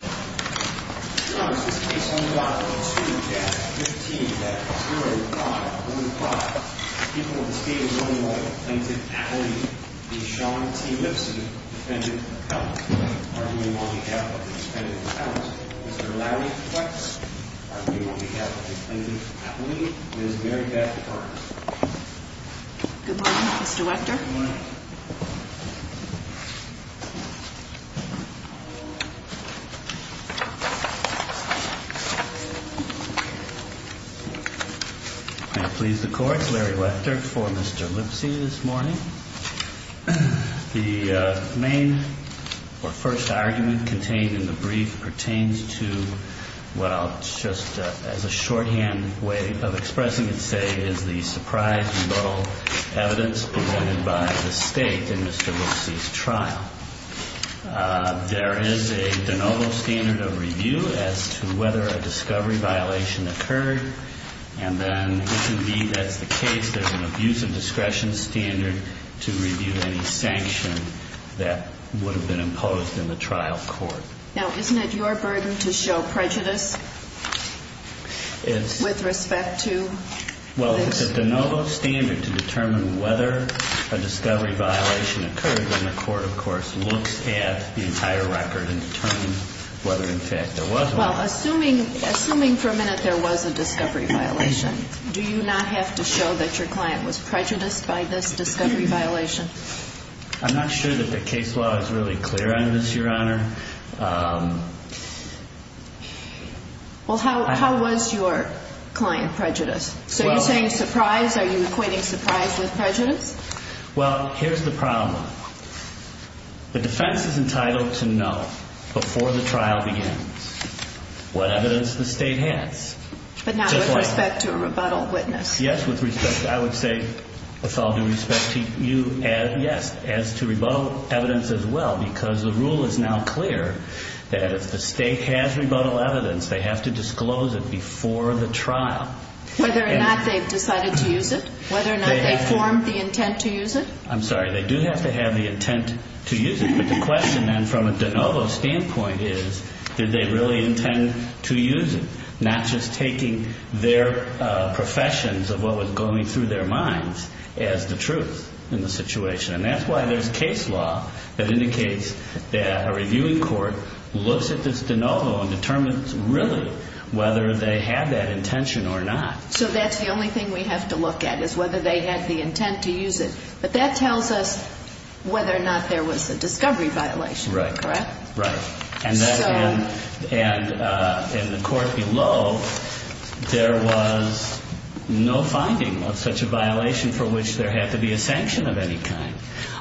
on behalf of the defendant's house, Mr. Larry Flex, on behalf of the plaintiff's attorney, and the defense attorney, Mr. Larry Wechter. I please the Court, Larry Wechter, for Mr. Lipsey this morning. The main or first argument contained in the brief pertains to what I'll just as a shorthand way of expressing and say is the surprise and low evidence provided by the State in Mr. Lipsey's trial. There is a de novo standard of review as to whether a discovery violation occurred, and then if indeed that's the case, there's an abuse of discretion standard to review any sanction that would have been imposed in the trial court. Now, isn't it your burden to show prejudice with respect to this? Well, it's a de novo standard to determine whether a discovery violation occurred when the court, of course, looks at the entire record and determines whether in fact there was one. Well, assuming for a minute there was a discovery violation, do you not have to show that your client was prejudiced by this discovery violation? I'm not sure that the case law is really clear on this, Your Honor. Well, how was your client prejudiced? So you're saying surprise, are you acquainting surprise with prejudice? Well, here's the problem. The defense is entitled to know before the trial begins what evidence the State has. But not with respect to a rebuttal witness. Yes, with respect to, I would say, with all due respect to you, yes, as to rebuttal evidence as well, because the rule is now clear that if the State has rebuttal evidence, they have to disclose it before the trial. Whether or not they've decided to use it? Whether or not they've formed the intent to use it? I'm sorry, they do have to have the intent to use it, but the question then from a de novo standpoint is, did they really intend to use it? Not just taking their professions of what was going through their minds as the truth in the situation. And that's why there's case law that indicates that a reviewing court looks at this de novo and determines really whether they had that intention or not. So that's the only thing we have to look at, is whether they had the intent to use it. But that tells us whether or not there was a discovery violation, correct? Right. And in the court below, there was no finding of such a violation for which there had to be a sanction of any kind.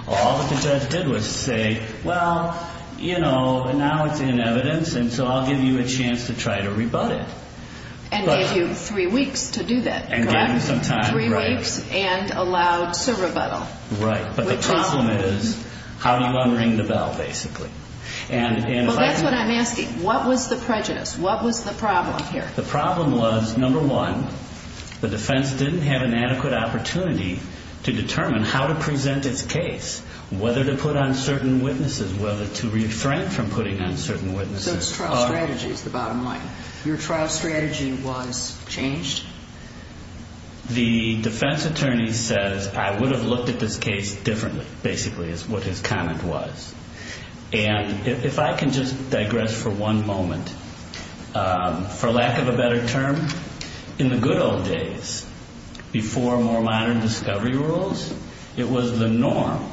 All that the judge did was say, well, you know, now it's in evidence, and so I'll give you a chance to try to rebut it. And give you three weeks to do that, correct? And give them some time, right. Three weeks, and allowed, so rebuttal. Right. But the problem is, how do you unring the bell, basically? Well, that's what I'm asking. What was the prejudice? What was the problem here? The problem was, number one, the defense didn't have an adequate opportunity to determine how to present its case, whether to put on certain witnesses, whether to refrain from putting on certain witnesses. So it's trial strategy is the bottom line. Your trial strategy was changed? The defense attorney says, I would have looked at this case differently, basically, is what his comment was. And if I can just digress for one moment, for lack of a better term, in the good old days, before more modern discovery rules, it was the norm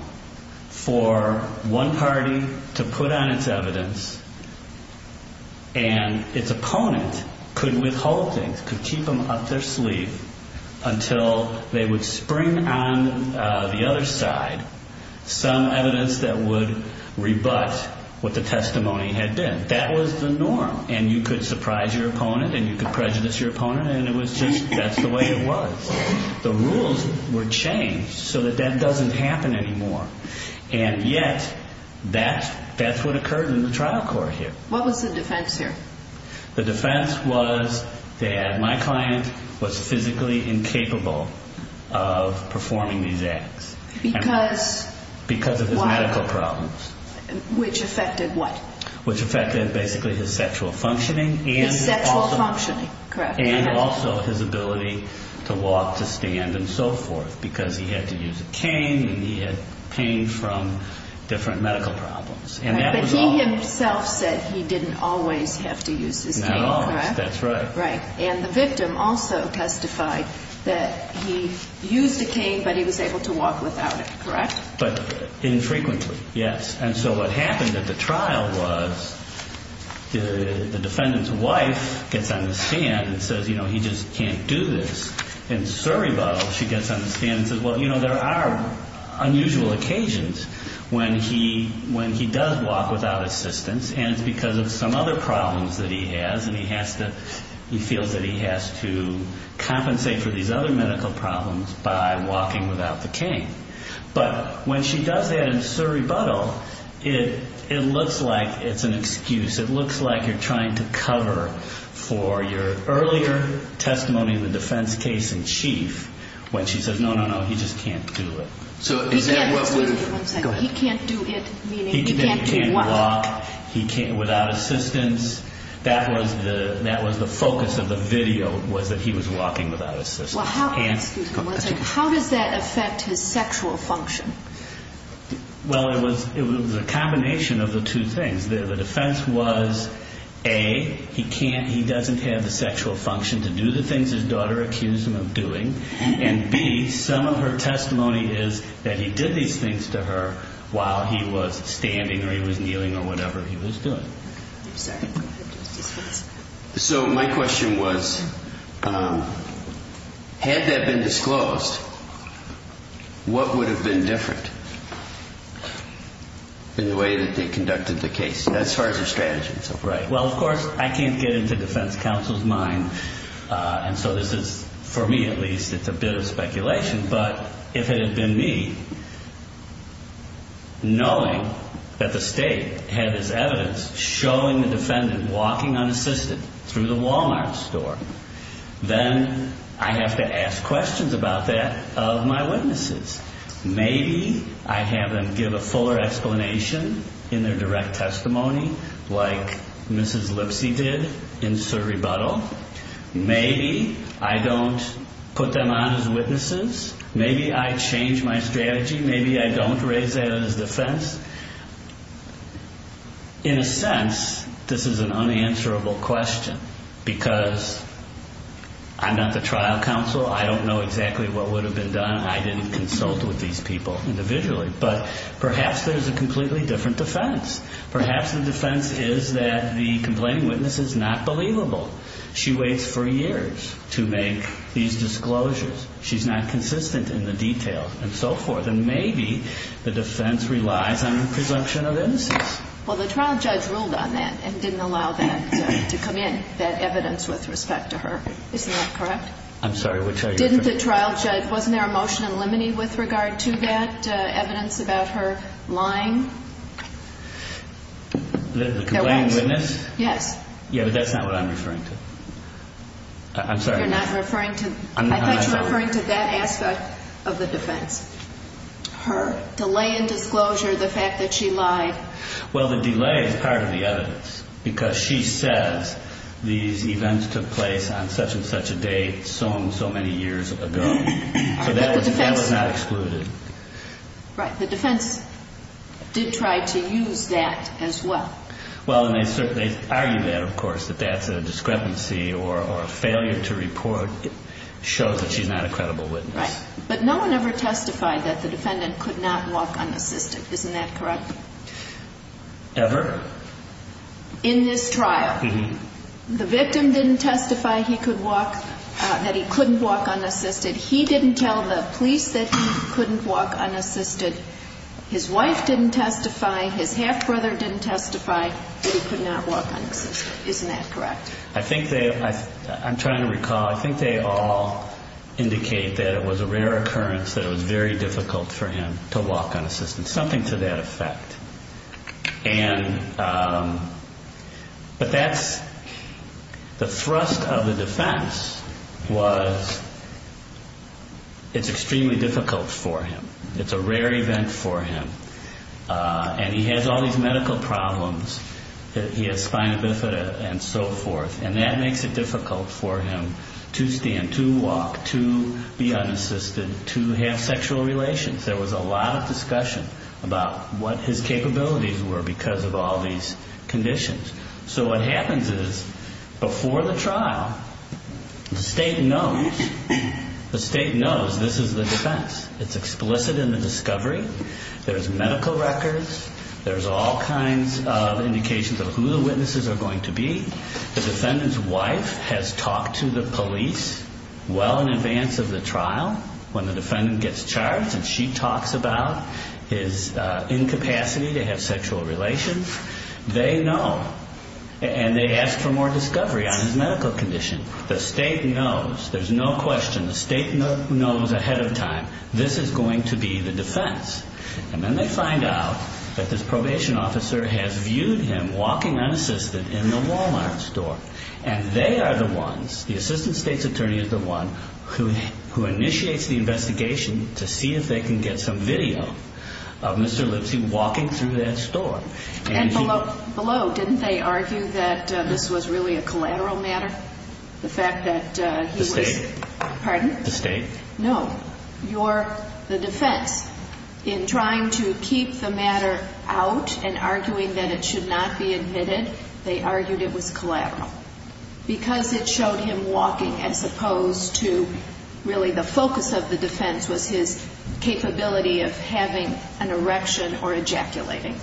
for one party to put on its evidence, and its opponent could withhold things, could keep them up their sleeve until they would spring on the other side some evidence that would rebut what the testimony had been. That was the norm. And you could surprise your opponent, and you could prejudice your opponent, and it was just, that's the way it was. The rules were changed so that that doesn't happen anymore. And yet, that's what occurred in the trial court here. What was the defense here? The defense was that my client was physically incapable of performing these acts. Because? Because of his medical problems. Which affected what? Which affected, basically, his sexual functioning. His sexual functioning, correct. And also, his ability to walk, to stand, and so forth. Because he had to use a cane, and he had pain from different medical problems. But he himself said he didn't always have to use his cane, correct? Not always, that's right. Right. And the victim also testified that he used a cane, but he was able to walk without it, correct? But infrequently, yes. And so what happened at the trial was, the defendant's wife gets on the stand and says, you know, he just can't do this. In surrebuttal, she gets on the stand and says, well, you know, there are unusual occasions when he does walk without assistance, and it's because of some other problems that he has, and he has to, he feels that he has to compensate for these other medical problems by walking without the cane. But when she does that in surrebuttal, it looks like it's an excuse. It looks like you're trying to cover for your earlier testimony in the defense case in chief, when she says, no, no, no, he just can't do it. So is that what we're... Excuse me one second. Go ahead. He can't do it, meaning he can't do what? He can't walk without assistance. That was the focus of the video, was that he was walking without assistance. Well, how, excuse me one second, how does that affect his sexual function? Well, it was a combination of the two things. The defense was, A, he can't, he doesn't have the sexual function to do the things his daughter accused him of doing, and B, some of her testimony is that he did these things to her while he was standing or he was kneeling or whatever he was doing. So my question was, had that been disclosed, what would have been different in the way that they conducted the case, as far as their strategy? Right. Well, of course, I can't get into defense counsel's mind, and so this is, for me at least, it's a bit of speculation, but if it had been me, knowing that the state had this evidence showing the defendant walking unassisted through the Walmart store, then I have to ask questions about that of my witnesses. Maybe I have them give a fuller explanation in their direct testimony, like Mrs. Lipsy did in Sir Rebuttal. Maybe I don't put them on as witnesses. Maybe I change my strategy. Maybe I don't raise that as defense. In a sense, this is an unanswerable question, because I'm not the trial counsel. I don't know exactly what would have been done. I didn't consult with these people individually. But perhaps there's a completely different defense. Perhaps the defense is that the complaining witness is not believable. She waits for years to make these disclosures. She's not consistent in the detail, and so forth. And maybe the defense relies on a presumption of innocence. Well, the trial judge ruled on that and didn't allow that to come in, that evidence with respect to her. Isn't that correct? I'm sorry, which are you referring to? Didn't the trial judge, wasn't there a motion in limine with regard to that evidence about her lying? The complaining witness? Yes. Yeah, but that's not what I'm referring to. I'm sorry. I thought you were referring to that aspect of the defense. Her delay in disclosure, the fact that she lied. Well, the delay is part of the evidence, because she says these events took place on such and such a date so and so many years ago. So that was not excluded. Right. The defense did try to use that as well. Well, and they argue that, of course, that that's a discrepancy or a failure to report shows that she's not a credible witness. Right. But no one ever testified that the defendant could not walk unassisted. Isn't that correct? Ever? In this trial. The victim didn't testify he could walk, that he couldn't walk unassisted. He didn't tell the police that he couldn't walk unassisted. His wife didn't testify. His half-brother didn't testify that he could not walk unassisted. Isn't that correct? I think they, I'm trying to recall, I think they all indicate that it was a rare occurrence that it was very difficult for him to walk unassisted, something to that effect. And, but that's, the thrust of the defense was it's extremely difficult for him. It's a rare event for him. And he has all these medical problems. He has spina bifida and so forth. And that makes it difficult for him to stand, to walk, to be unassisted, to have sexual relations. There was a lot of discussion about what his capabilities were because of all these conditions. So what happens is, before the trial, the state knows, the state knows this is the defense. It's explicit in the discovery. There's medical records. There's all kinds of indications of who the witnesses are going to be. The defendant's wife has talked to the police well in advance of the trial when the defendant gets charged and she talks about his incapacity to have sexual relations. They know. And they ask for more discovery on his medical condition. The state knows. There's no question. The state knows ahead of time this is going to be the defense. And then they find out that this probation officer has viewed him walking unassisted in the Walmart store. And they are the ones, the assistant state's attorney is the one who initiates the investigation to see if they can get some video of Mr. Lipsy walking through that store. And below, didn't they argue that this was really a collateral matter, the fact that he was- The state. Pardon? The state. No. You're the defense. In trying to keep the matter out and arguing that it should not be admitted, they argued it was collateral. Because it showed him walking as opposed to, really, the focus of the defense was his capability of having an erection or ejaculating.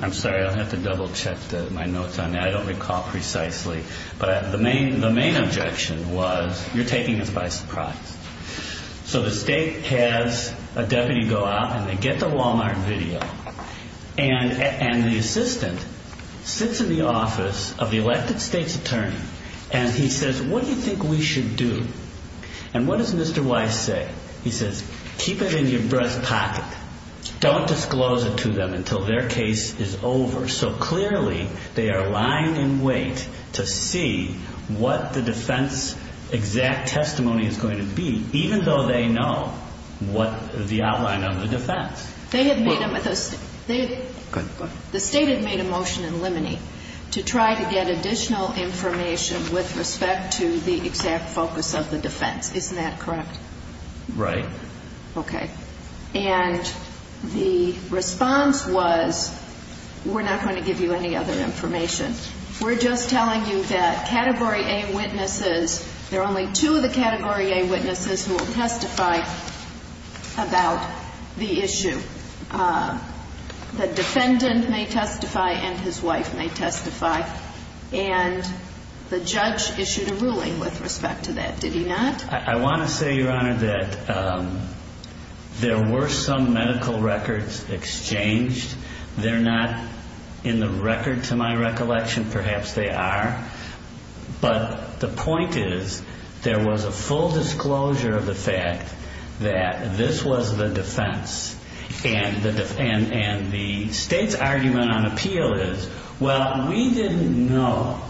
I'm sorry, I'll have to double check my notes on that. I don't recall precisely. But the main objection was, you're taking this by surprise. So the state has a deputy go out, and they get the Walmart video. And the assistant sits in the office of the elected state's attorney, and he says, what do you think we should do? And what does Mr. Weiss say? He says, keep it in your breast pocket. Don't disclose it to them until their case is over so clearly they are lying in wait to see what the defense exact testimony is going to be, even though they know what the outline of the defense. They have made a- Go ahead. The state had made a motion in Limine to try to get additional information with respect to the exact focus of the defense. Isn't that correct? Right. Okay. And the response was, we're not going to give you any other information. We're just telling you that Category A witnesses, there are only two of the Category A witnesses who will testify about the issue. The defendant may testify and his wife may testify. And the judge issued a ruling with respect to that. Did he not? I want to say, Your Honor, that there were some medical records exchanged. They're not in the record to my recollection. Perhaps they are. But the point is there was a full disclosure of the fact that this was the defense. And the state's argument on appeal is, well, we didn't know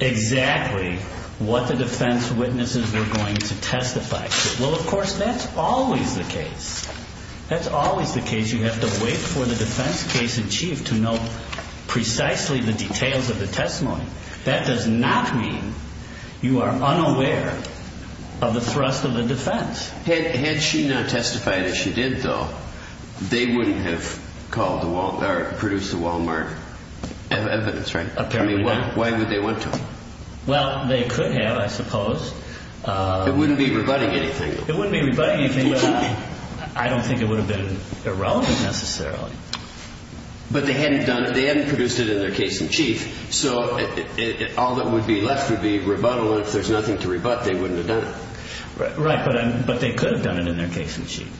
exactly what the defense witnesses were going to testify. Well, of course, that's always the case. That's always the case. You have to wait for the defense case in chief to know precisely the details of the testimony. That does not mean you are unaware of the thrust of the defense. Had she not testified, as she did, though, they wouldn't have produced the Wal-Mart evidence, right? Why would they want to? Well, they could have, I suppose. It wouldn't be rebutting anything. It wouldn't be rebutting anything. I don't think it would have been irrelevant, necessarily. But they hadn't produced it in their case in chief, so all that would be left would be rebuttal, and if there's nothing to rebut, they wouldn't have done it. Right, but they could have done it in their case in chief.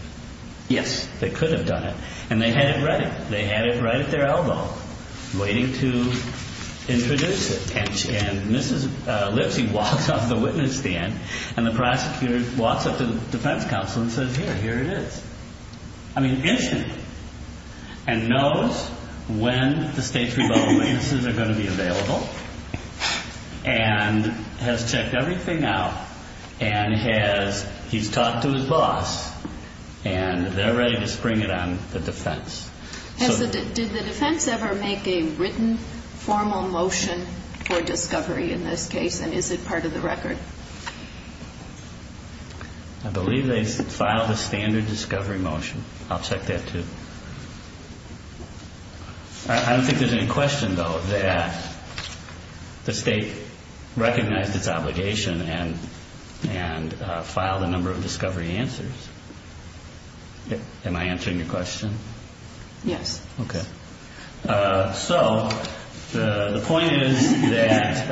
Yes, they could have done it. And they had it ready. They had it right at their elbow, waiting to introduce it. And Mrs. Lipsy walks off the witness stand, and the prosecutor walks up to the defense counsel and says, here, here it is. I mean, instantly. And knows when the state's rebuttal witnesses are going to be available, and has checked everything out, and he's talked to his boss, and they're ready to spring it on the defense. Did the defense ever make a written formal motion for discovery in this case, and is it part of the record? I believe they filed a standard discovery motion. I'll check that, too. I don't think there's any question, though, that the state recognized its obligation and filed a number of discovery answers. Am I answering your question? Yes. Okay. So the point is that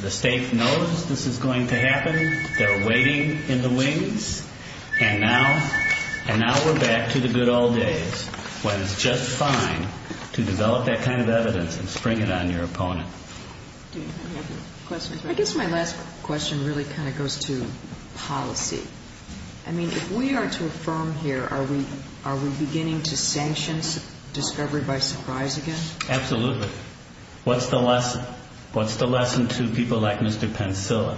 the state knows this is going to happen. They're waiting in the wings. And now we're back to the good old days, when it's just fine to develop that kind of evidence and spring it on your opponent. Do you have a question? I guess my last question really kind of goes to policy. I mean, if we are to affirm here, are we beginning to sanction discovery by surprise again? Absolutely. What's the lesson? What's the lesson to people like Mr. Pensilla?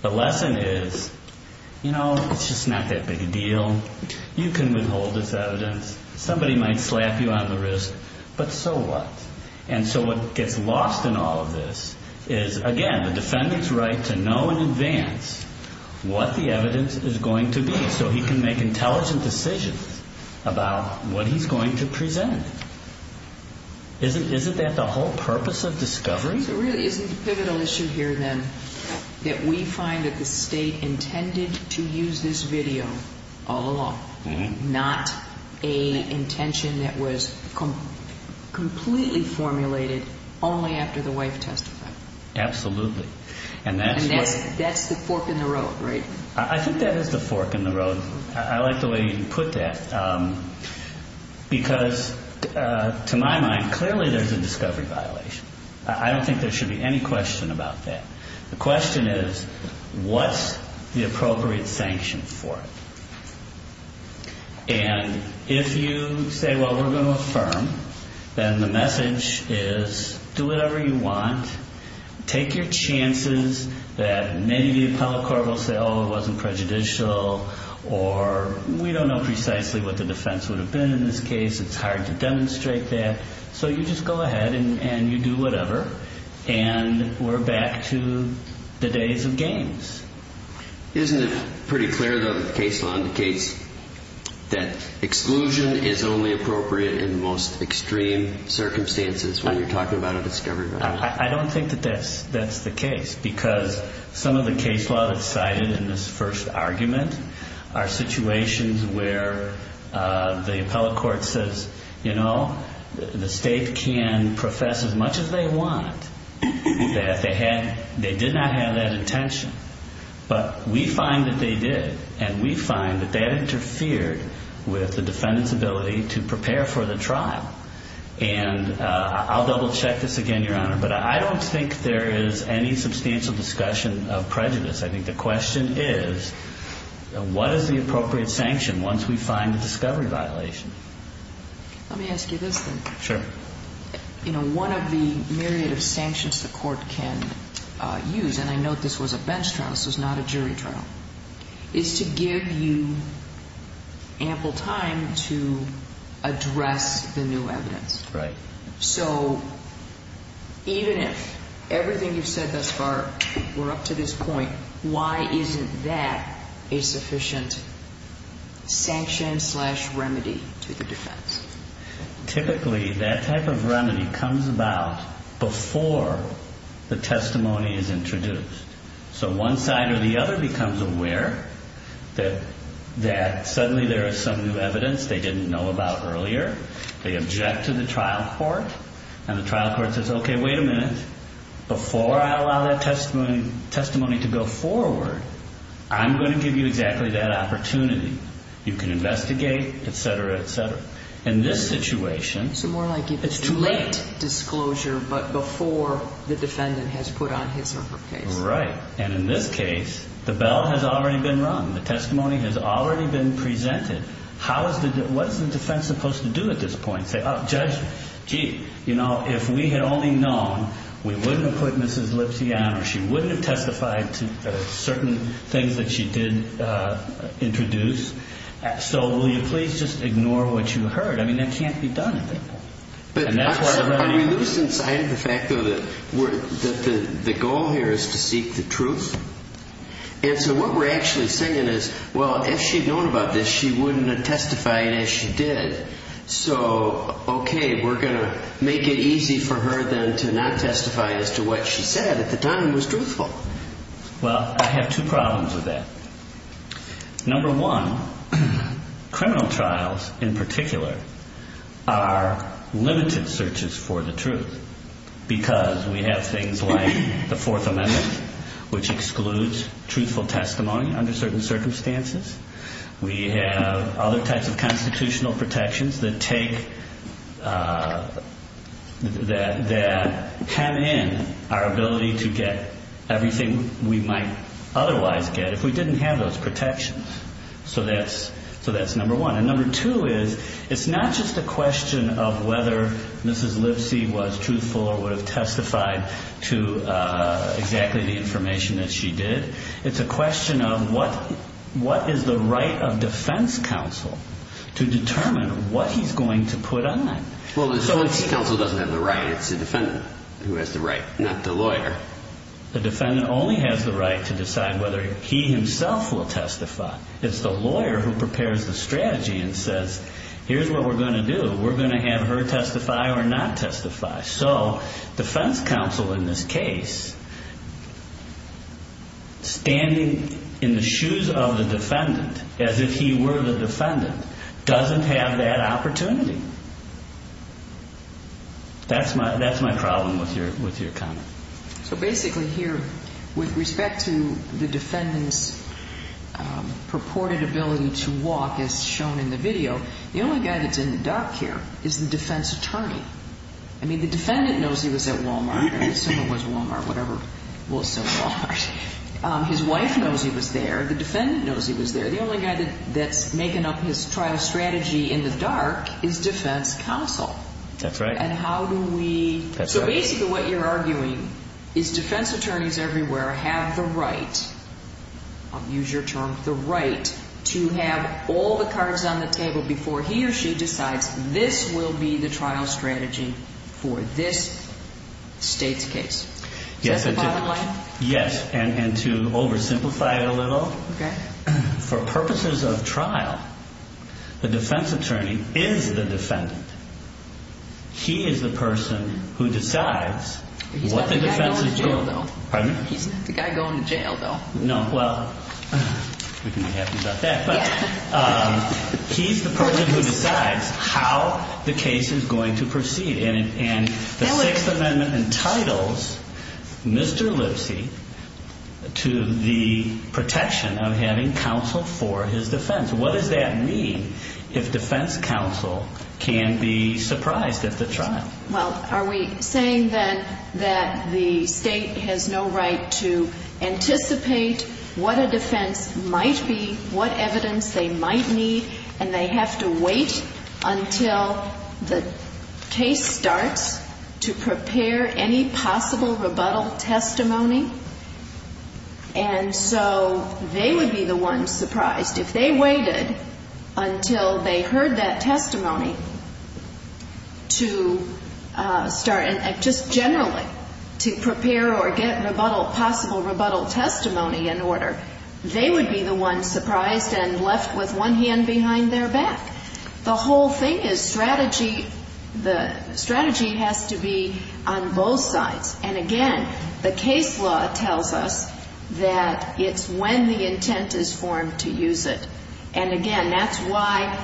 The lesson is, you know, it's just not that big a deal. You can withhold this evidence. Somebody might slap you on the wrist, but so what? And so what gets lost in all of this is, again, the defendant's right to know in advance what the evidence is going to be so he can make intelligent decisions about what he's going to present. Isn't that the whole purpose of discovery? So it really isn't a pivotal issue here, then, that we find that the state intended to use this video all along, not an intention that was completely formulated only after the wife testified. Absolutely. And that's the fork in the road, right? I think that is the fork in the road. I like the way you put that because, to my mind, clearly there's a discovery violation. I don't think there should be any question about that. The question is, what's the appropriate sanction for it? And if you say, well, we're going to affirm, then the message is do whatever you want. Take your chances that maybe the appellate court will say, oh, it wasn't prejudicial, or we don't know precisely what the defense would have been in this case. It's hard to demonstrate that. So you just go ahead and you do whatever, and we're back to the days of games. Isn't it pretty clear, though, that the case law indicates that exclusion is only appropriate in the most extreme circumstances when you're talking about a discovery violation? I don't think that that's the case because some of the case law that's cited in this first argument are situations where the appellate court says, you know, the state can profess as much as they want that they did not have that intention. But we find that they did, and we find that that interfered with the defendant's ability to prepare for the trial. And I'll double-check this again, Your Honor, but I don't think there is any substantial discussion of prejudice. I think the question is, what is the appropriate sanction once we find a discovery violation? Let me ask you this, then. Sure. You know, one of the myriad of sanctions the court can use, and I note this was a bench trial, this was not a jury trial, is to give you ample time to address the new evidence. Right. So even if everything you've said thus far were up to this point, why isn't that a sufficient sanction slash remedy to the defense? Typically that type of remedy comes about before the testimony is introduced. So one side or the other becomes aware that suddenly there is some new evidence they didn't know about earlier. They object to the trial court, and the trial court says, okay, wait a minute, before I allow that testimony to go forward, I'm going to give you exactly that opportunity. You can investigate, et cetera, et cetera. In this situation, it's too late. So more like it's too late disclosure, but before the defendant has put on his or her case. Right. And in this case, the bell has already been rung. The testimony has already been presented. What is the defense supposed to do at this point? Say, oh, Judge, gee, you know, if we had only known, we wouldn't have put Mrs. Lipsy on, or she wouldn't have testified to certain things that she did introduce. So will you please just ignore what you heard? I mean, that can't be done. But we lose sight of the fact, though, that the goal here is to seek the truth. And so what we're actually saying is, well, if she'd known about this, she wouldn't have testified as she did. So, okay, we're going to make it easy for her, then, to not testify as to what she said at the time was truthful. Well, I have two problems with that. Number one, criminal trials, in particular, are limited searches for the truth because we have things like the Fourth Amendment, which excludes truthful testimony under certain circumstances. We have other types of constitutional protections that take, that hem in our ability to get everything we might otherwise get if we didn't have those protections. So that's number one. And number two is, it's not just a question of whether Mrs. Lipsy was truthful or would have testified to exactly the information that she did. It's a question of what is the right of defense counsel to determine what he's going to put on. Well, the defense counsel doesn't have the right. It's the defendant who has the right, not the lawyer. The defendant only has the right to decide whether he himself will testify. It's the lawyer who prepares the strategy and says, here's what we're going to do. We're going to have her testify or not testify. So defense counsel in this case, standing in the shoes of the defendant as if he were the defendant, doesn't have that opportunity. That's my problem with your comment. So basically here, with respect to the defendant's purported ability to walk, as shown in the video, the only guy that's in the dock here is the defense attorney. I mean, the defendant knows he was at Wal-Mart, or someone was at Wal-Mart, whatever. His wife knows he was there. The defendant knows he was there. The only guy that's making up his trial strategy in the dark is defense counsel. That's right. So basically what you're arguing is defense attorneys everywhere have the right, I'll use your term, the right, to have all the cards on the table before he or she decides this will be the trial strategy for this state's case. Is that the bottom line? Yes. And to oversimplify it a little, for purposes of trial, the defense attorney is the defendant. He is the person who decides what the defense is doing. He's the guy going to jail, though. No, well, we can be happy about that. He's the person who decides how the case is going to proceed. And the Sixth Amendment entitles Mr. Lipsy to the protection of having counsel for his defense. What does that mean if defense counsel can be surprised at the trial? Well, are we saying then that the state has no right to anticipate what a defense might be, what evidence they might need, and they have to wait until the case starts to prepare any possible rebuttal testimony? And so they would be the ones surprised. If they waited until they heard that testimony to start, and just generally to prepare or get possible rebuttal testimony in order, they would be the ones surprised and left with one hand behind their back. The whole thing is strategy. The strategy has to be on both sides. And, again, the case law tells us that it's when the intent is formed to use it. And, again, that's why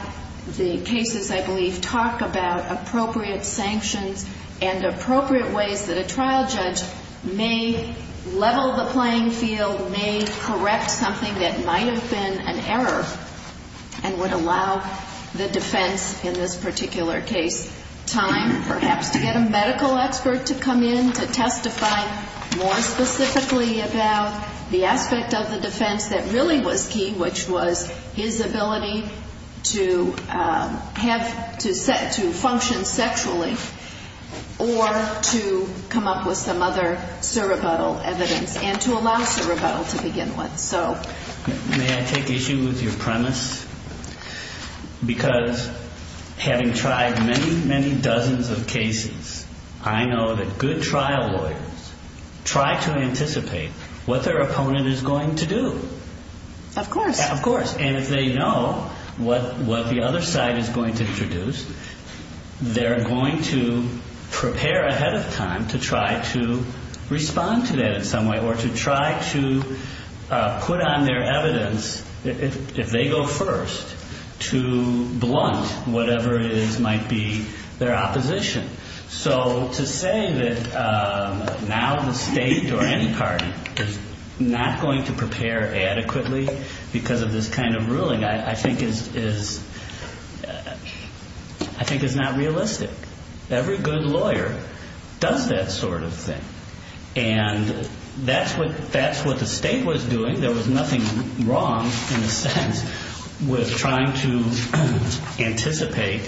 the cases, I believe, talk about appropriate sanctions and appropriate ways that a trial judge may level the playing field, may correct something that might have been an error and would allow the defense in this particular case time perhaps to get a medical expert to come in to testify more specifically about the aspect of the defense that really was key, which was his ability to function sexually or to come up with some other surrebuttal evidence and to allow surrebuttal to begin with. May I take issue with your premise? Because having tried many, many dozens of cases, I know that good trial lawyers try to anticipate what their opponent is going to do. Of course. Of course. And if they know what the other side is going to introduce, they're going to prepare ahead of time to try to respond to that in some way or to try to put on their evidence, if they go first, to blunt whatever it is might be their opposition. So to say that now the state or any party is not going to prepare adequately because of this kind of ruling I think is not realistic. Every good lawyer does that sort of thing. And that's what the state was doing. I think there was nothing wrong, in a sense, with trying to anticipate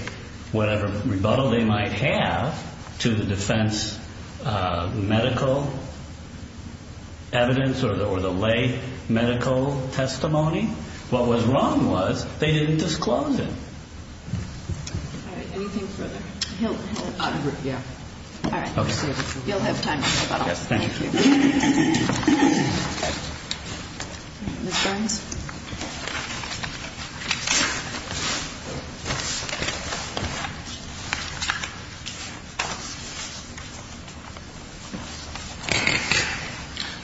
whatever rebuttal they might have to the defense medical evidence or the lay medical testimony. What was wrong was they didn't disclose it. All right. Anything further? He'll interrupt. Yeah. All right. You'll have time to rebuttal. Thank you. Ms. Burns?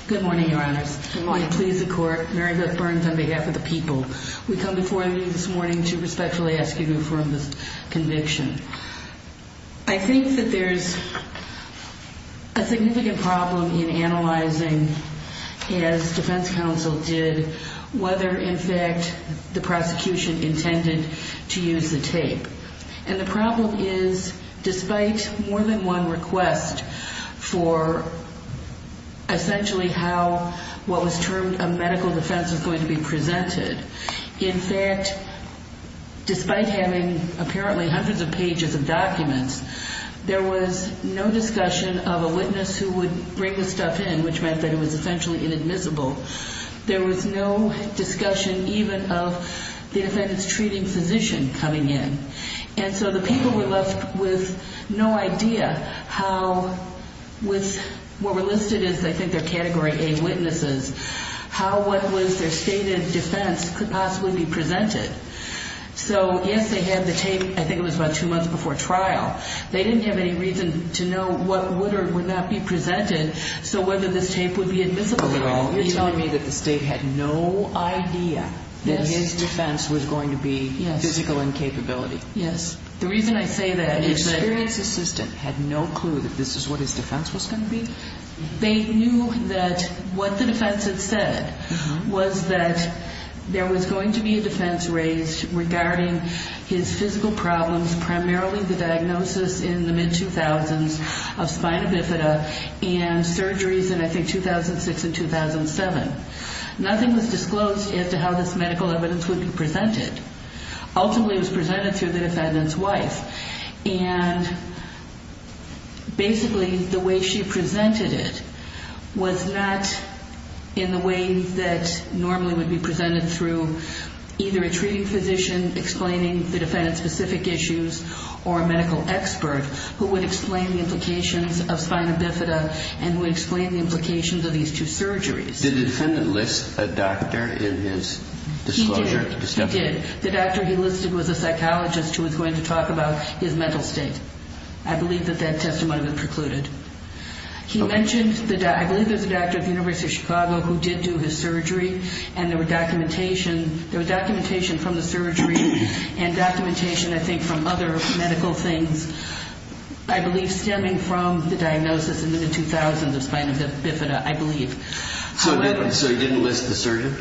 Good morning, Your Honors. Good morning. Please, the Court. Mary Beth Burns on behalf of the people. We come before you this morning to respectfully ask you to affirm this conviction. I think that there's a significant problem in analyzing, as defense counsel did, whether, in fact, the prosecution intended to use the tape. And the problem is, despite more than one request for, essentially, how what was termed a medical defense was going to be presented, in fact, despite having apparently hundreds of pages of documents, there was no discussion of a witness who would bring the stuff in, which meant that it was essentially inadmissible. There was no discussion even of the defendant's treating physician coming in. And so the people were left with no idea how with what were listed as, I think, their Category A witnesses, how what was their stated defense could possibly be presented. So, yes, they had the tape. I think it was about two months before trial. They didn't have any reason to know what would or would not be presented, so whether this tape would be admissible at all. You're telling me that the State had no idea that his defense was going to be physical incapability. Yes. The reason I say that is that... The experienced assistant had no clue that this is what his defense was going to be? They knew that what the defense had said was that there was going to be a defense raised regarding his physical problems, primarily the diagnosis in the mid-2000s of spina bifida and surgeries in, I think, 2006 and 2007. Nothing was disclosed as to how this medical evidence would be presented. Ultimately, it was presented through the defendant's wife. And basically, the way she presented it was not in the way that normally would be presented through either a treating physician explaining the defendant's specific issues or a medical expert who would explain the implications of spina bifida and would explain the implications of these two surgeries. Did the defendant list a doctor in his disclosure? He did. The doctor he listed was a psychologist who was going to talk about his mental state. I believe that that testimony was precluded. I believe there was a doctor at the University of Chicago who did do his surgery and there was documentation from the surgery and documentation, I think, from other medical things, I believe, stemming from the diagnosis in the mid-2000s of spina bifida, I believe. So he didn't list the surgeon?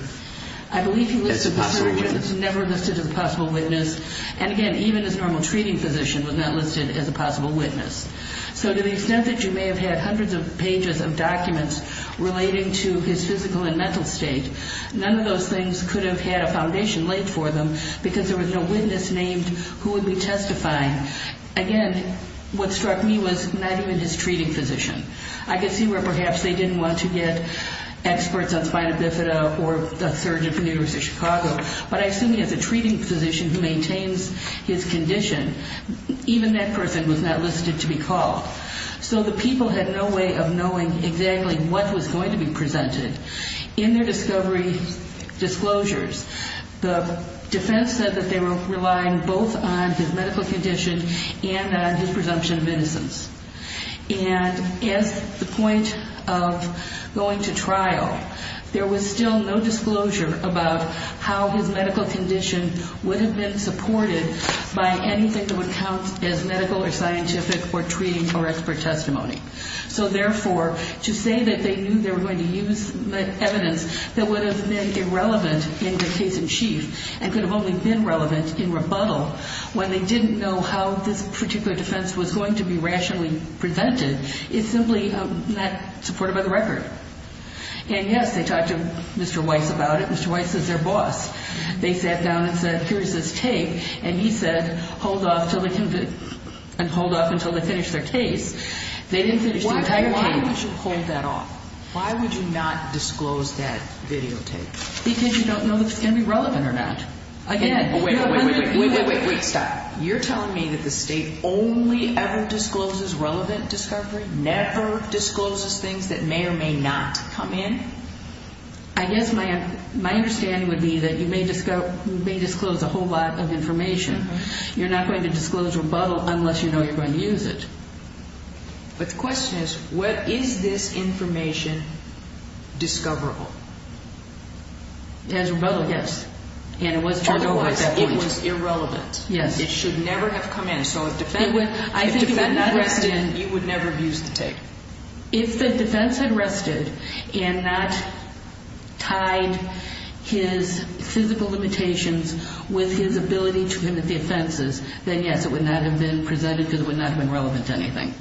I believe he listed the surgeon. That's a possible witness. He was never listed as a possible witness. And again, even his normal treating physician was not listed as a possible witness. So to the extent that you may have had hundreds of pages of documents relating to his physical and mental state, none of those things could have had a foundation laid for them because there was no witness named who would be testifying. Again, what struck me was not even his treating physician. I could see where perhaps they didn't want to get experts on spina bifida or a surgeon from the University of Chicago, but I assume he has a treating physician who maintains his condition. Even that person was not listed to be called. So the people had no way of knowing exactly what was going to be presented. In their discovery disclosures, the defense said that they were relying both on his medical condition and on his presumption of innocence. And at the point of going to trial, there was still no disclosure about how his medical condition would have been supported by anything that would count as medical or scientific or treating or expert testimony. So therefore, to say that they knew they were going to use evidence that would have been irrelevant in the case in chief and could have only been relevant in rebuttal when they didn't know how this particular defense was going to be rationally presented is simply not supported by the record. And, yes, they talked to Mr. Weiss about it. Mr. Weiss is their boss. They sat down and said, here's this tape. And he said, hold off until they finish their case. They didn't finish the entire case. Why would you hold that off? Why would you not disclose that videotape? Because you don't know if it's going to be relevant or not. Wait, wait, wait, stop. You're telling me that the state only ever discloses relevant discovery, never discloses things that may or may not come in? I guess my understanding would be that you may disclose a whole lot of information. You're not going to disclose rebuttal unless you know you're going to use it. But the question is, what is this information discoverable? It has rebuttal, yes. Otherwise, it was irrelevant. It should never have come in. So if the defendant had rested, you would never have used the tape. If the defense had rested and not tied his physical limitations with his ability to commit the offenses, then, yes, it would not have been presented because it would not have been relevant to anything.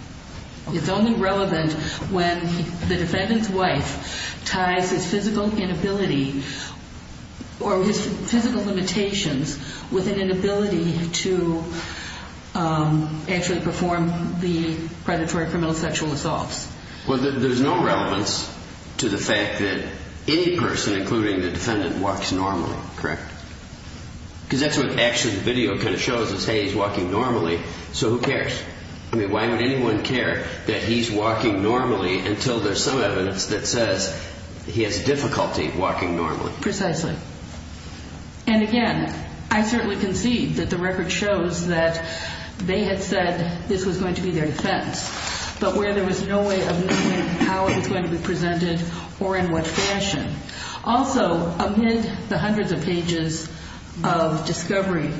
It's only relevant when the defendant's wife ties his physical inability or his physical limitations with an inability to actually perform the predatory criminal sexual assaults. Well, there's no relevance to the fact that any person, including the defendant, walks normally, correct? Because that's what actually the video kind of shows is, hey, he's walking normally, so who cares? I mean, why would anyone care that he's walking normally until there's some evidence that says he has difficulty walking normally? Precisely. And, again, I certainly concede that the record shows that they had said this was going to be their defense, but where there was no way of knowing how it was going to be presented or in what fashion. Also, amid the hundreds of pages of discovery,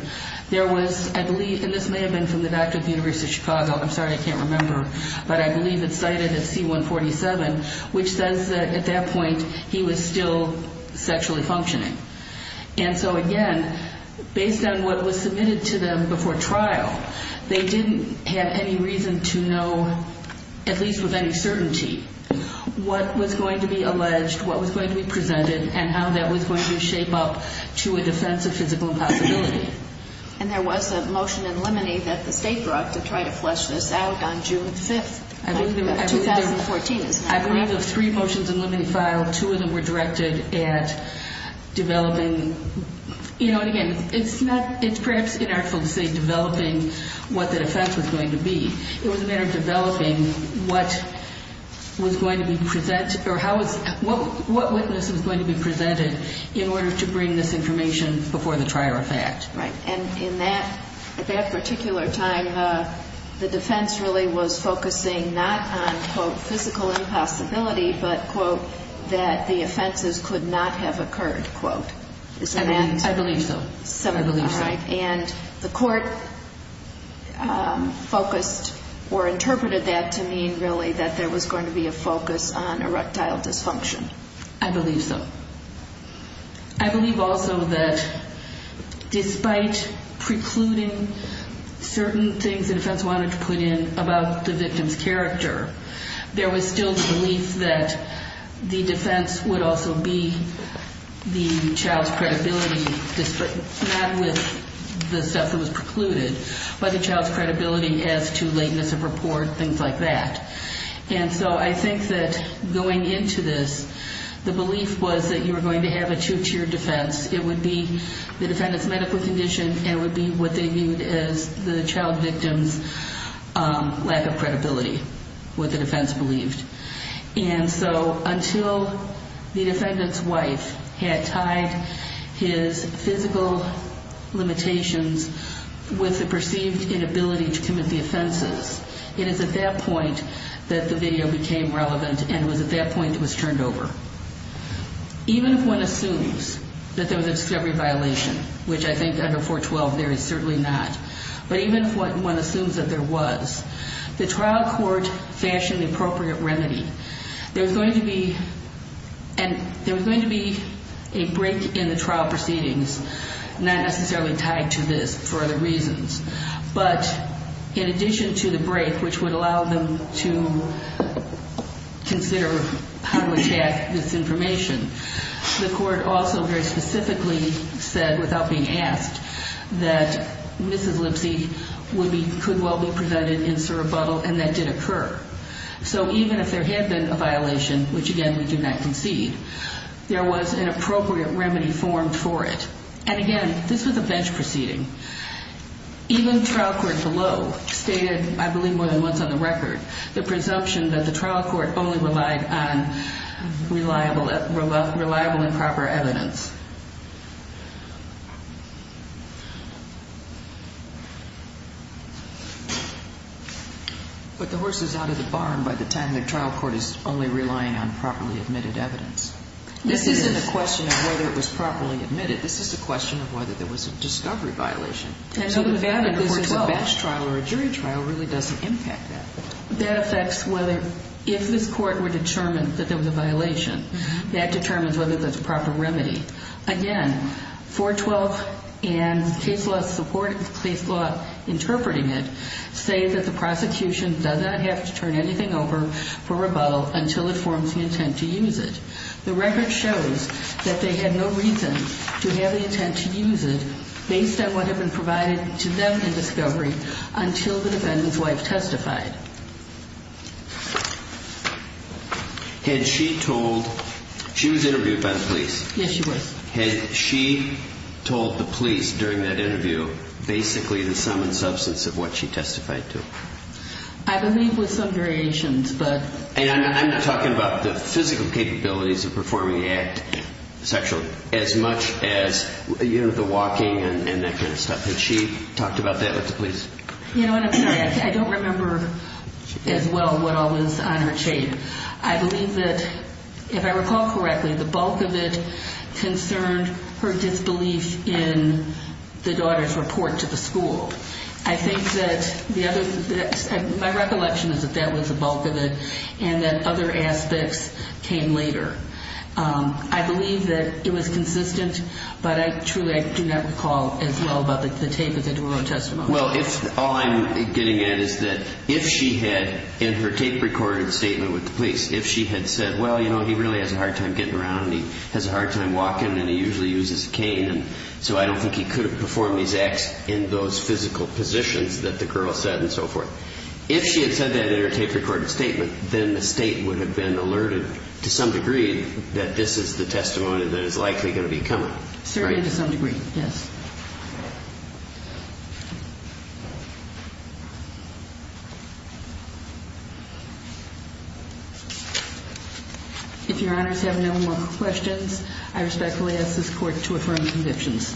there was, I believe, and this may have been from the back of the University of Chicago, I'm sorry, I can't remember, but I believe it's cited at C-147, which says that at that point he was still sexually functioning. And so, again, based on what was submitted to them before trial, they didn't have any reason to know, at least with any certainty, what was going to be alleged, what was going to be presented, and how that was going to shape up to a defense of physical impossibility. And there was a motion in limine that the State brought to try to flesh this out on June 5th, 2014. I believe there were three motions in limine filed. Two of them were directed at developing, you know, and, again, it's perhaps inartful to say developing what the defense was going to be. It was a matter of developing what was going to be presented, what witness was going to be presented in order to bring this information before the trier of fact. Right. And in that particular time, the defense really was focusing not on, quote, physical impossibility, but, quote, that the offenses could not have occurred, quote. I believe so. All right. And the court focused or interpreted that to mean, really, that there was going to be a focus on erectile dysfunction. I believe so. I believe also that despite precluding certain things the defense wanted to put in about the victim's character, there was still the belief that the defense would also be the child's credibility, not with the stuff that was precluded, but the child's credibility as to lateness of report, things like that. And so I think that going into this, the belief was that you were going to have a two-tier defense. It would be the defendant's medical condition, and it would be what they viewed as the child victim's lack of credibility, what the defense believed. And so until the defendant's wife had tied his physical limitations with the perceived inability to commit the offenses, it is at that point that the video became relevant, and it was at that point it was turned over. Even if one assumes that there was a discovery violation, which I think under 412 there is certainly not, but even if one assumes that there was, the trial court fashioned the appropriate remedy. There was going to be a break in the trial proceedings, not necessarily tied to this for other reasons, but in addition to the break, which would allow them to consider how to attack this information, the court also very specifically said, without being asked, that Mrs. Lipsey could well be presented in surrebuttal, and that did occur. So even if there had been a violation, which again we do not concede, there was an appropriate remedy formed for it. And again, this was a bench proceeding. Even trial court below stated, I believe more than once on the record, the presumption that the trial court only relied on reliable and proper evidence. But the horse is out of the barn by the time the trial court is only relying on properly admitted evidence. This isn't a question of whether it was properly admitted. This is a question of whether there was a discovery violation. And so the fact that this is a bench trial or a jury trial really doesn't impact that. That affects whether, if this court were determined that there was a violation, that determines whether there's a proper remedy. Again, 412 and case law interpreting it say that the prosecution does not have to turn anything over for rebuttal until it forms the intent to use it. The record shows that they had no reason to have the intent to use it based on what had been provided to them in discovery until the defendant's wife testified. Had she told, she was interviewed by the police. Yes, she was. Had she told the police during that interview basically the sum and substance of what she testified to? I believe with some variations, but. And I'm not talking about the physical capabilities of performing the act sexually as much as, you know, the walking and that kind of stuff. Had she talked about that with the police? You know what, I'm sorry. I don't remember as well what all was on her chain. I believe that, if I recall correctly, the bulk of it concerned her disbelief in the daughter's report to the school. I think that the other, my recollection is that that was the bulk of it, and that other aspects came later. I believe that it was consistent, but I truly do not recall as well about the tape of the duro testimony. Well, all I'm getting at is that if she had, in her tape-recorded statement with the police, if she had said, well, you know, he really has a hard time getting around, and he has a hard time walking, and he usually uses a cane, and so I don't think he could have performed these acts in those physical positions that the girl said and so forth. If she had said that in her tape-recorded statement, then the State would have been alerted to some degree that this is the testimony that is likely going to be coming. Certainly to some degree, yes. If Your Honors have no more questions, I respectfully ask this Court to affirm the convictions.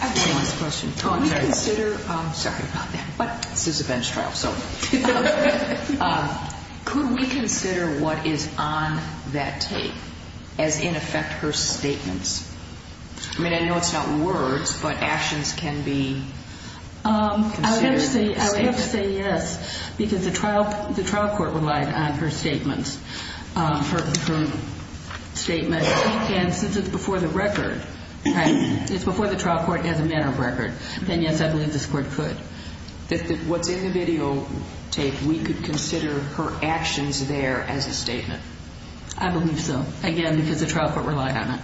I have one last question. Could we consider, sorry about that, but this is a bench trial, so could we consider what is on that tape as, in effect, her statements? I mean, I know it's not words, but actions can be considered a statement. I would have to say yes, because the trial court relied on her statements. Her statement, again, since it's before the record, right, it's before the trial court as a matter of record, then yes, I believe this Court could. What's in the videotape, we could consider her actions there as a statement? I believe so, again, because the trial court relied on it.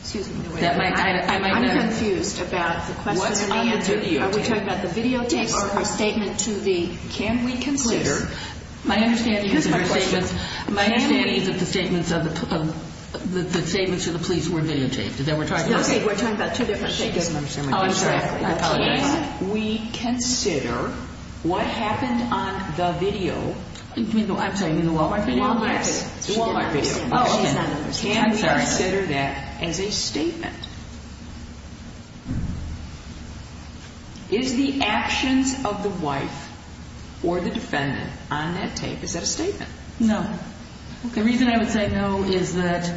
Excuse me, I'm confused about the question and answer. Are we talking about the videotapes or her statement to the police? My understanding is that the statements to the police were videotaped. We're talking about two different statements. Oh, I'm sorry, I apologize. Can we consider what happened on the video? I'm sorry, you mean the Wal-Mart video? The Wal-Mart video. Oh, okay. Can we consider that as a statement? Is the actions of the wife or the defendant on that tape, is that a statement? No. The reason I would say no is that,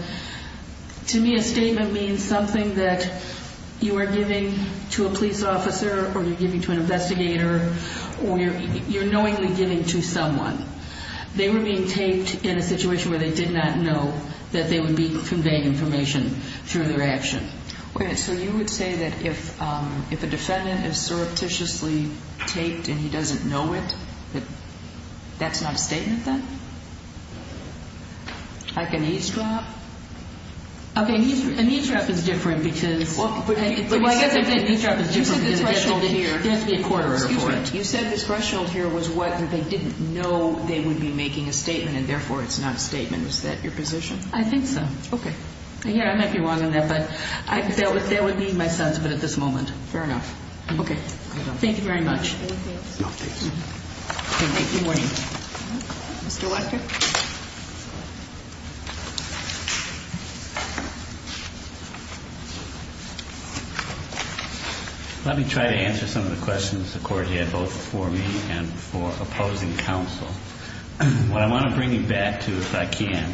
to me, a statement means something that you are giving to a police officer or you're giving to an investigator or you're knowingly giving to someone. They were being taped in a situation where they did not know that they would be conveying information through their action. Okay, so you would say that if a defendant is surreptitiously taped and he doesn't know it, that that's not a statement then? Like an eavesdrop? Okay, an eavesdrop is different because – You said the threshold here was what they didn't know they would be making a statement and, therefore, it's not a statement. Is that your position? I think so. Okay. Yeah, I might be wrong on that, but that would be my son's, but at this moment. Fair enough. Okay. Thank you very much. No, thank you. Thank you. Good morning. Mr. Lecter? Let me try to answer some of the questions the court had both for me and for opposing counsel. What I want to bring you back to, if I can,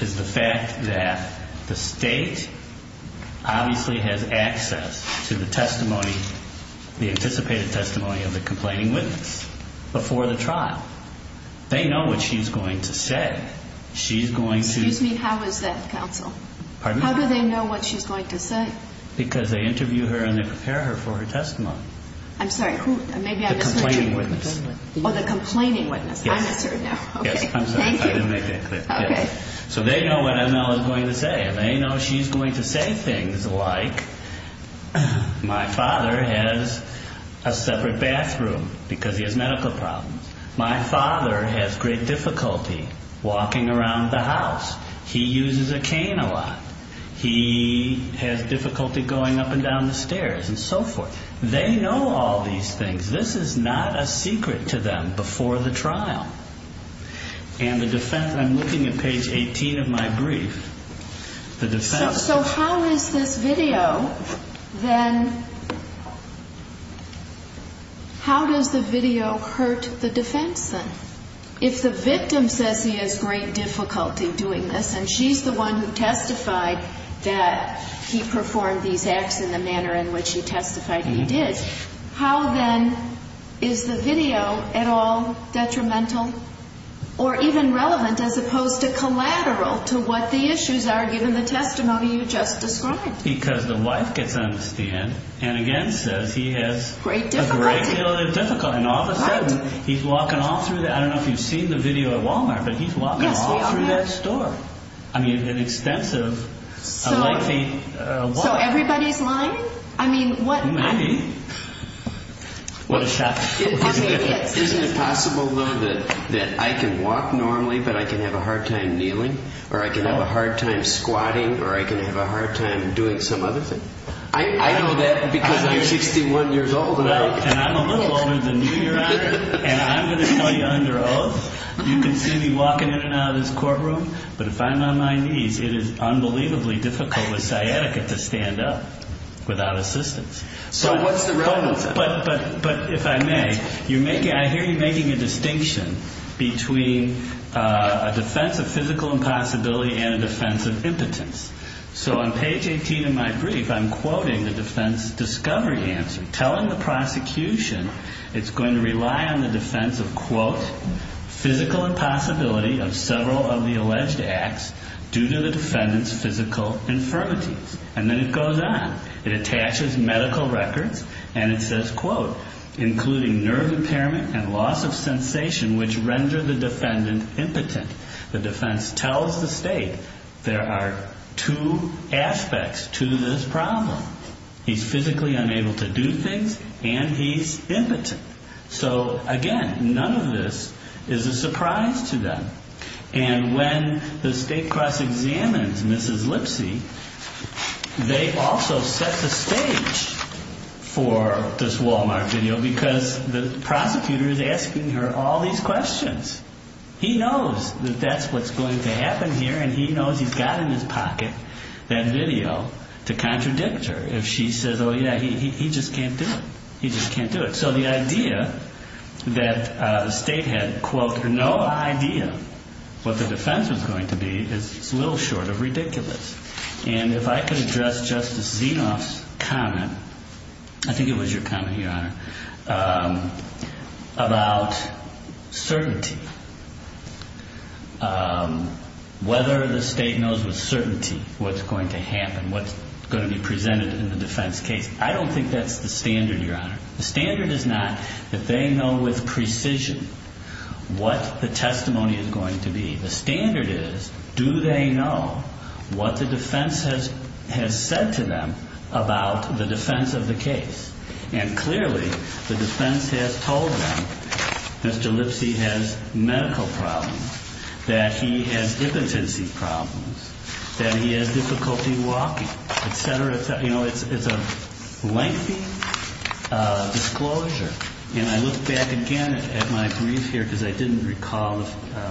is the fact that the state obviously has access to the testimony, the anticipated testimony of the complaining witness before the trial. She's going to – Excuse me. How is that, counsel? Pardon? How do they know what she's going to say? Because they interview her and they prepare her for her testimony. I'm sorry. Who? Maybe I misheard you. The complaining witness. Oh, the complaining witness. Yes. I misheard now. Okay. Yes, I'm sorry. Thank you. I didn't make that clear. Okay. So they know what M.L. is going to say. They know she's going to say things like, my father has a separate bathroom because he has medical problems. My father has great difficulty walking around the house. He uses a cane a lot. He has difficulty going up and down the stairs and so forth. They know all these things. This is not a secret to them before the trial. And the defense – I'm looking at page 18 of my brief. The defense – How is this video then – how does the video hurt the defense then? If the victim says he has great difficulty doing this and she's the one who testified that he performed these acts in the manner in which he testified he did, how then is the video at all detrimental or even relevant as opposed to collateral to what the issues are given the testimony you just described? Because the wife gets on the stand and, again, says he has a great deal of difficulty. And all of a sudden, he's walking all through the – I don't know if you've seen the video at Walmart, but he's walking all through that store. I mean, an extensive, a lengthy – So everybody's lying? I mean, what – Many. What a shock. Isn't it possible, though, that I can walk normally but I can have a hard time kneeling? Or I can have a hard time squatting? Or I can have a hard time doing some other thing? I know that because I'm 61 years old and I – And I'm a little older than you, Your Honor, and I'm going to tell you under oath, you can see me walking in and out of this courtroom, but if I'm on my knees, it is unbelievably difficult with sciatica to stand up without assistance. So what's the relevance of it? But if I may, I hear you making a distinction between a defense of physical impossibility and a defense of impotence. So on page 18 of my brief, I'm quoting the defense discovery answer, telling the prosecution it's going to rely on the defense of, quote, physical impossibility of several of the alleged acts due to the defendant's physical infirmities. And then it goes on. It attaches medical records and it says, quote, including nerve impairment and loss of sensation which render the defendant impotent. The defense tells the state there are two aspects to this problem. He's physically unable to do things and he's impotent. So, again, none of this is a surprise to them. And when the state cross-examines Mrs. Lipsy, they also set the stage for this Walmart video because the prosecutor is asking her all these questions. He knows that that's what's going to happen here and he knows he's got in his pocket that video to contradict her. If she says, oh, yeah, he just can't do it. He just can't do it. So the idea that the state had, quote, no idea what the defense was going to be is a little short of ridiculous. And if I could address Justice Zinoff's comment, I think it was your comment, Your Honor, about certainty, whether the state knows with certainty what's going to happen, what's going to be presented in the defense case. I don't think that's the standard, Your Honor. The standard is not that they know with precision what the testimony is going to be. The standard is, do they know what the defense has said to them about the defense of the case? And clearly, the defense has told them Mr. Lipsy has medical problems, that he has impotency problems, that he has difficulty walking, et cetera, et cetera. You know, it's a lengthy disclosure. And I look back again at my brief here because I didn't recall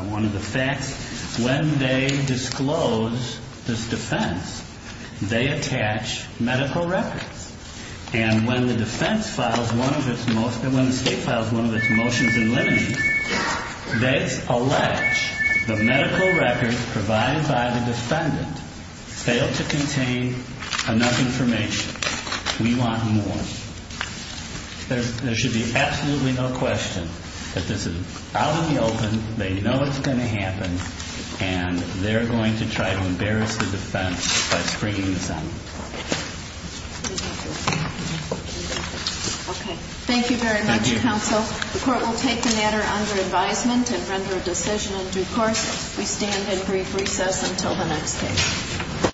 one of the facts. When they disclose this defense, they attach medical records. And when the defense files one of its motions, when the state files one of its motions in limine, they allege the medical records provided by the defendant fail to contain enough information. We want more. There should be absolutely no question that this is out in the open. They know what's going to happen. And they're going to try to embarrass the defense by springing the sentence. Thank you very much, counsel. The Court will take the matter under advisement and render a decision in due course. We stand in brief recess until the next case.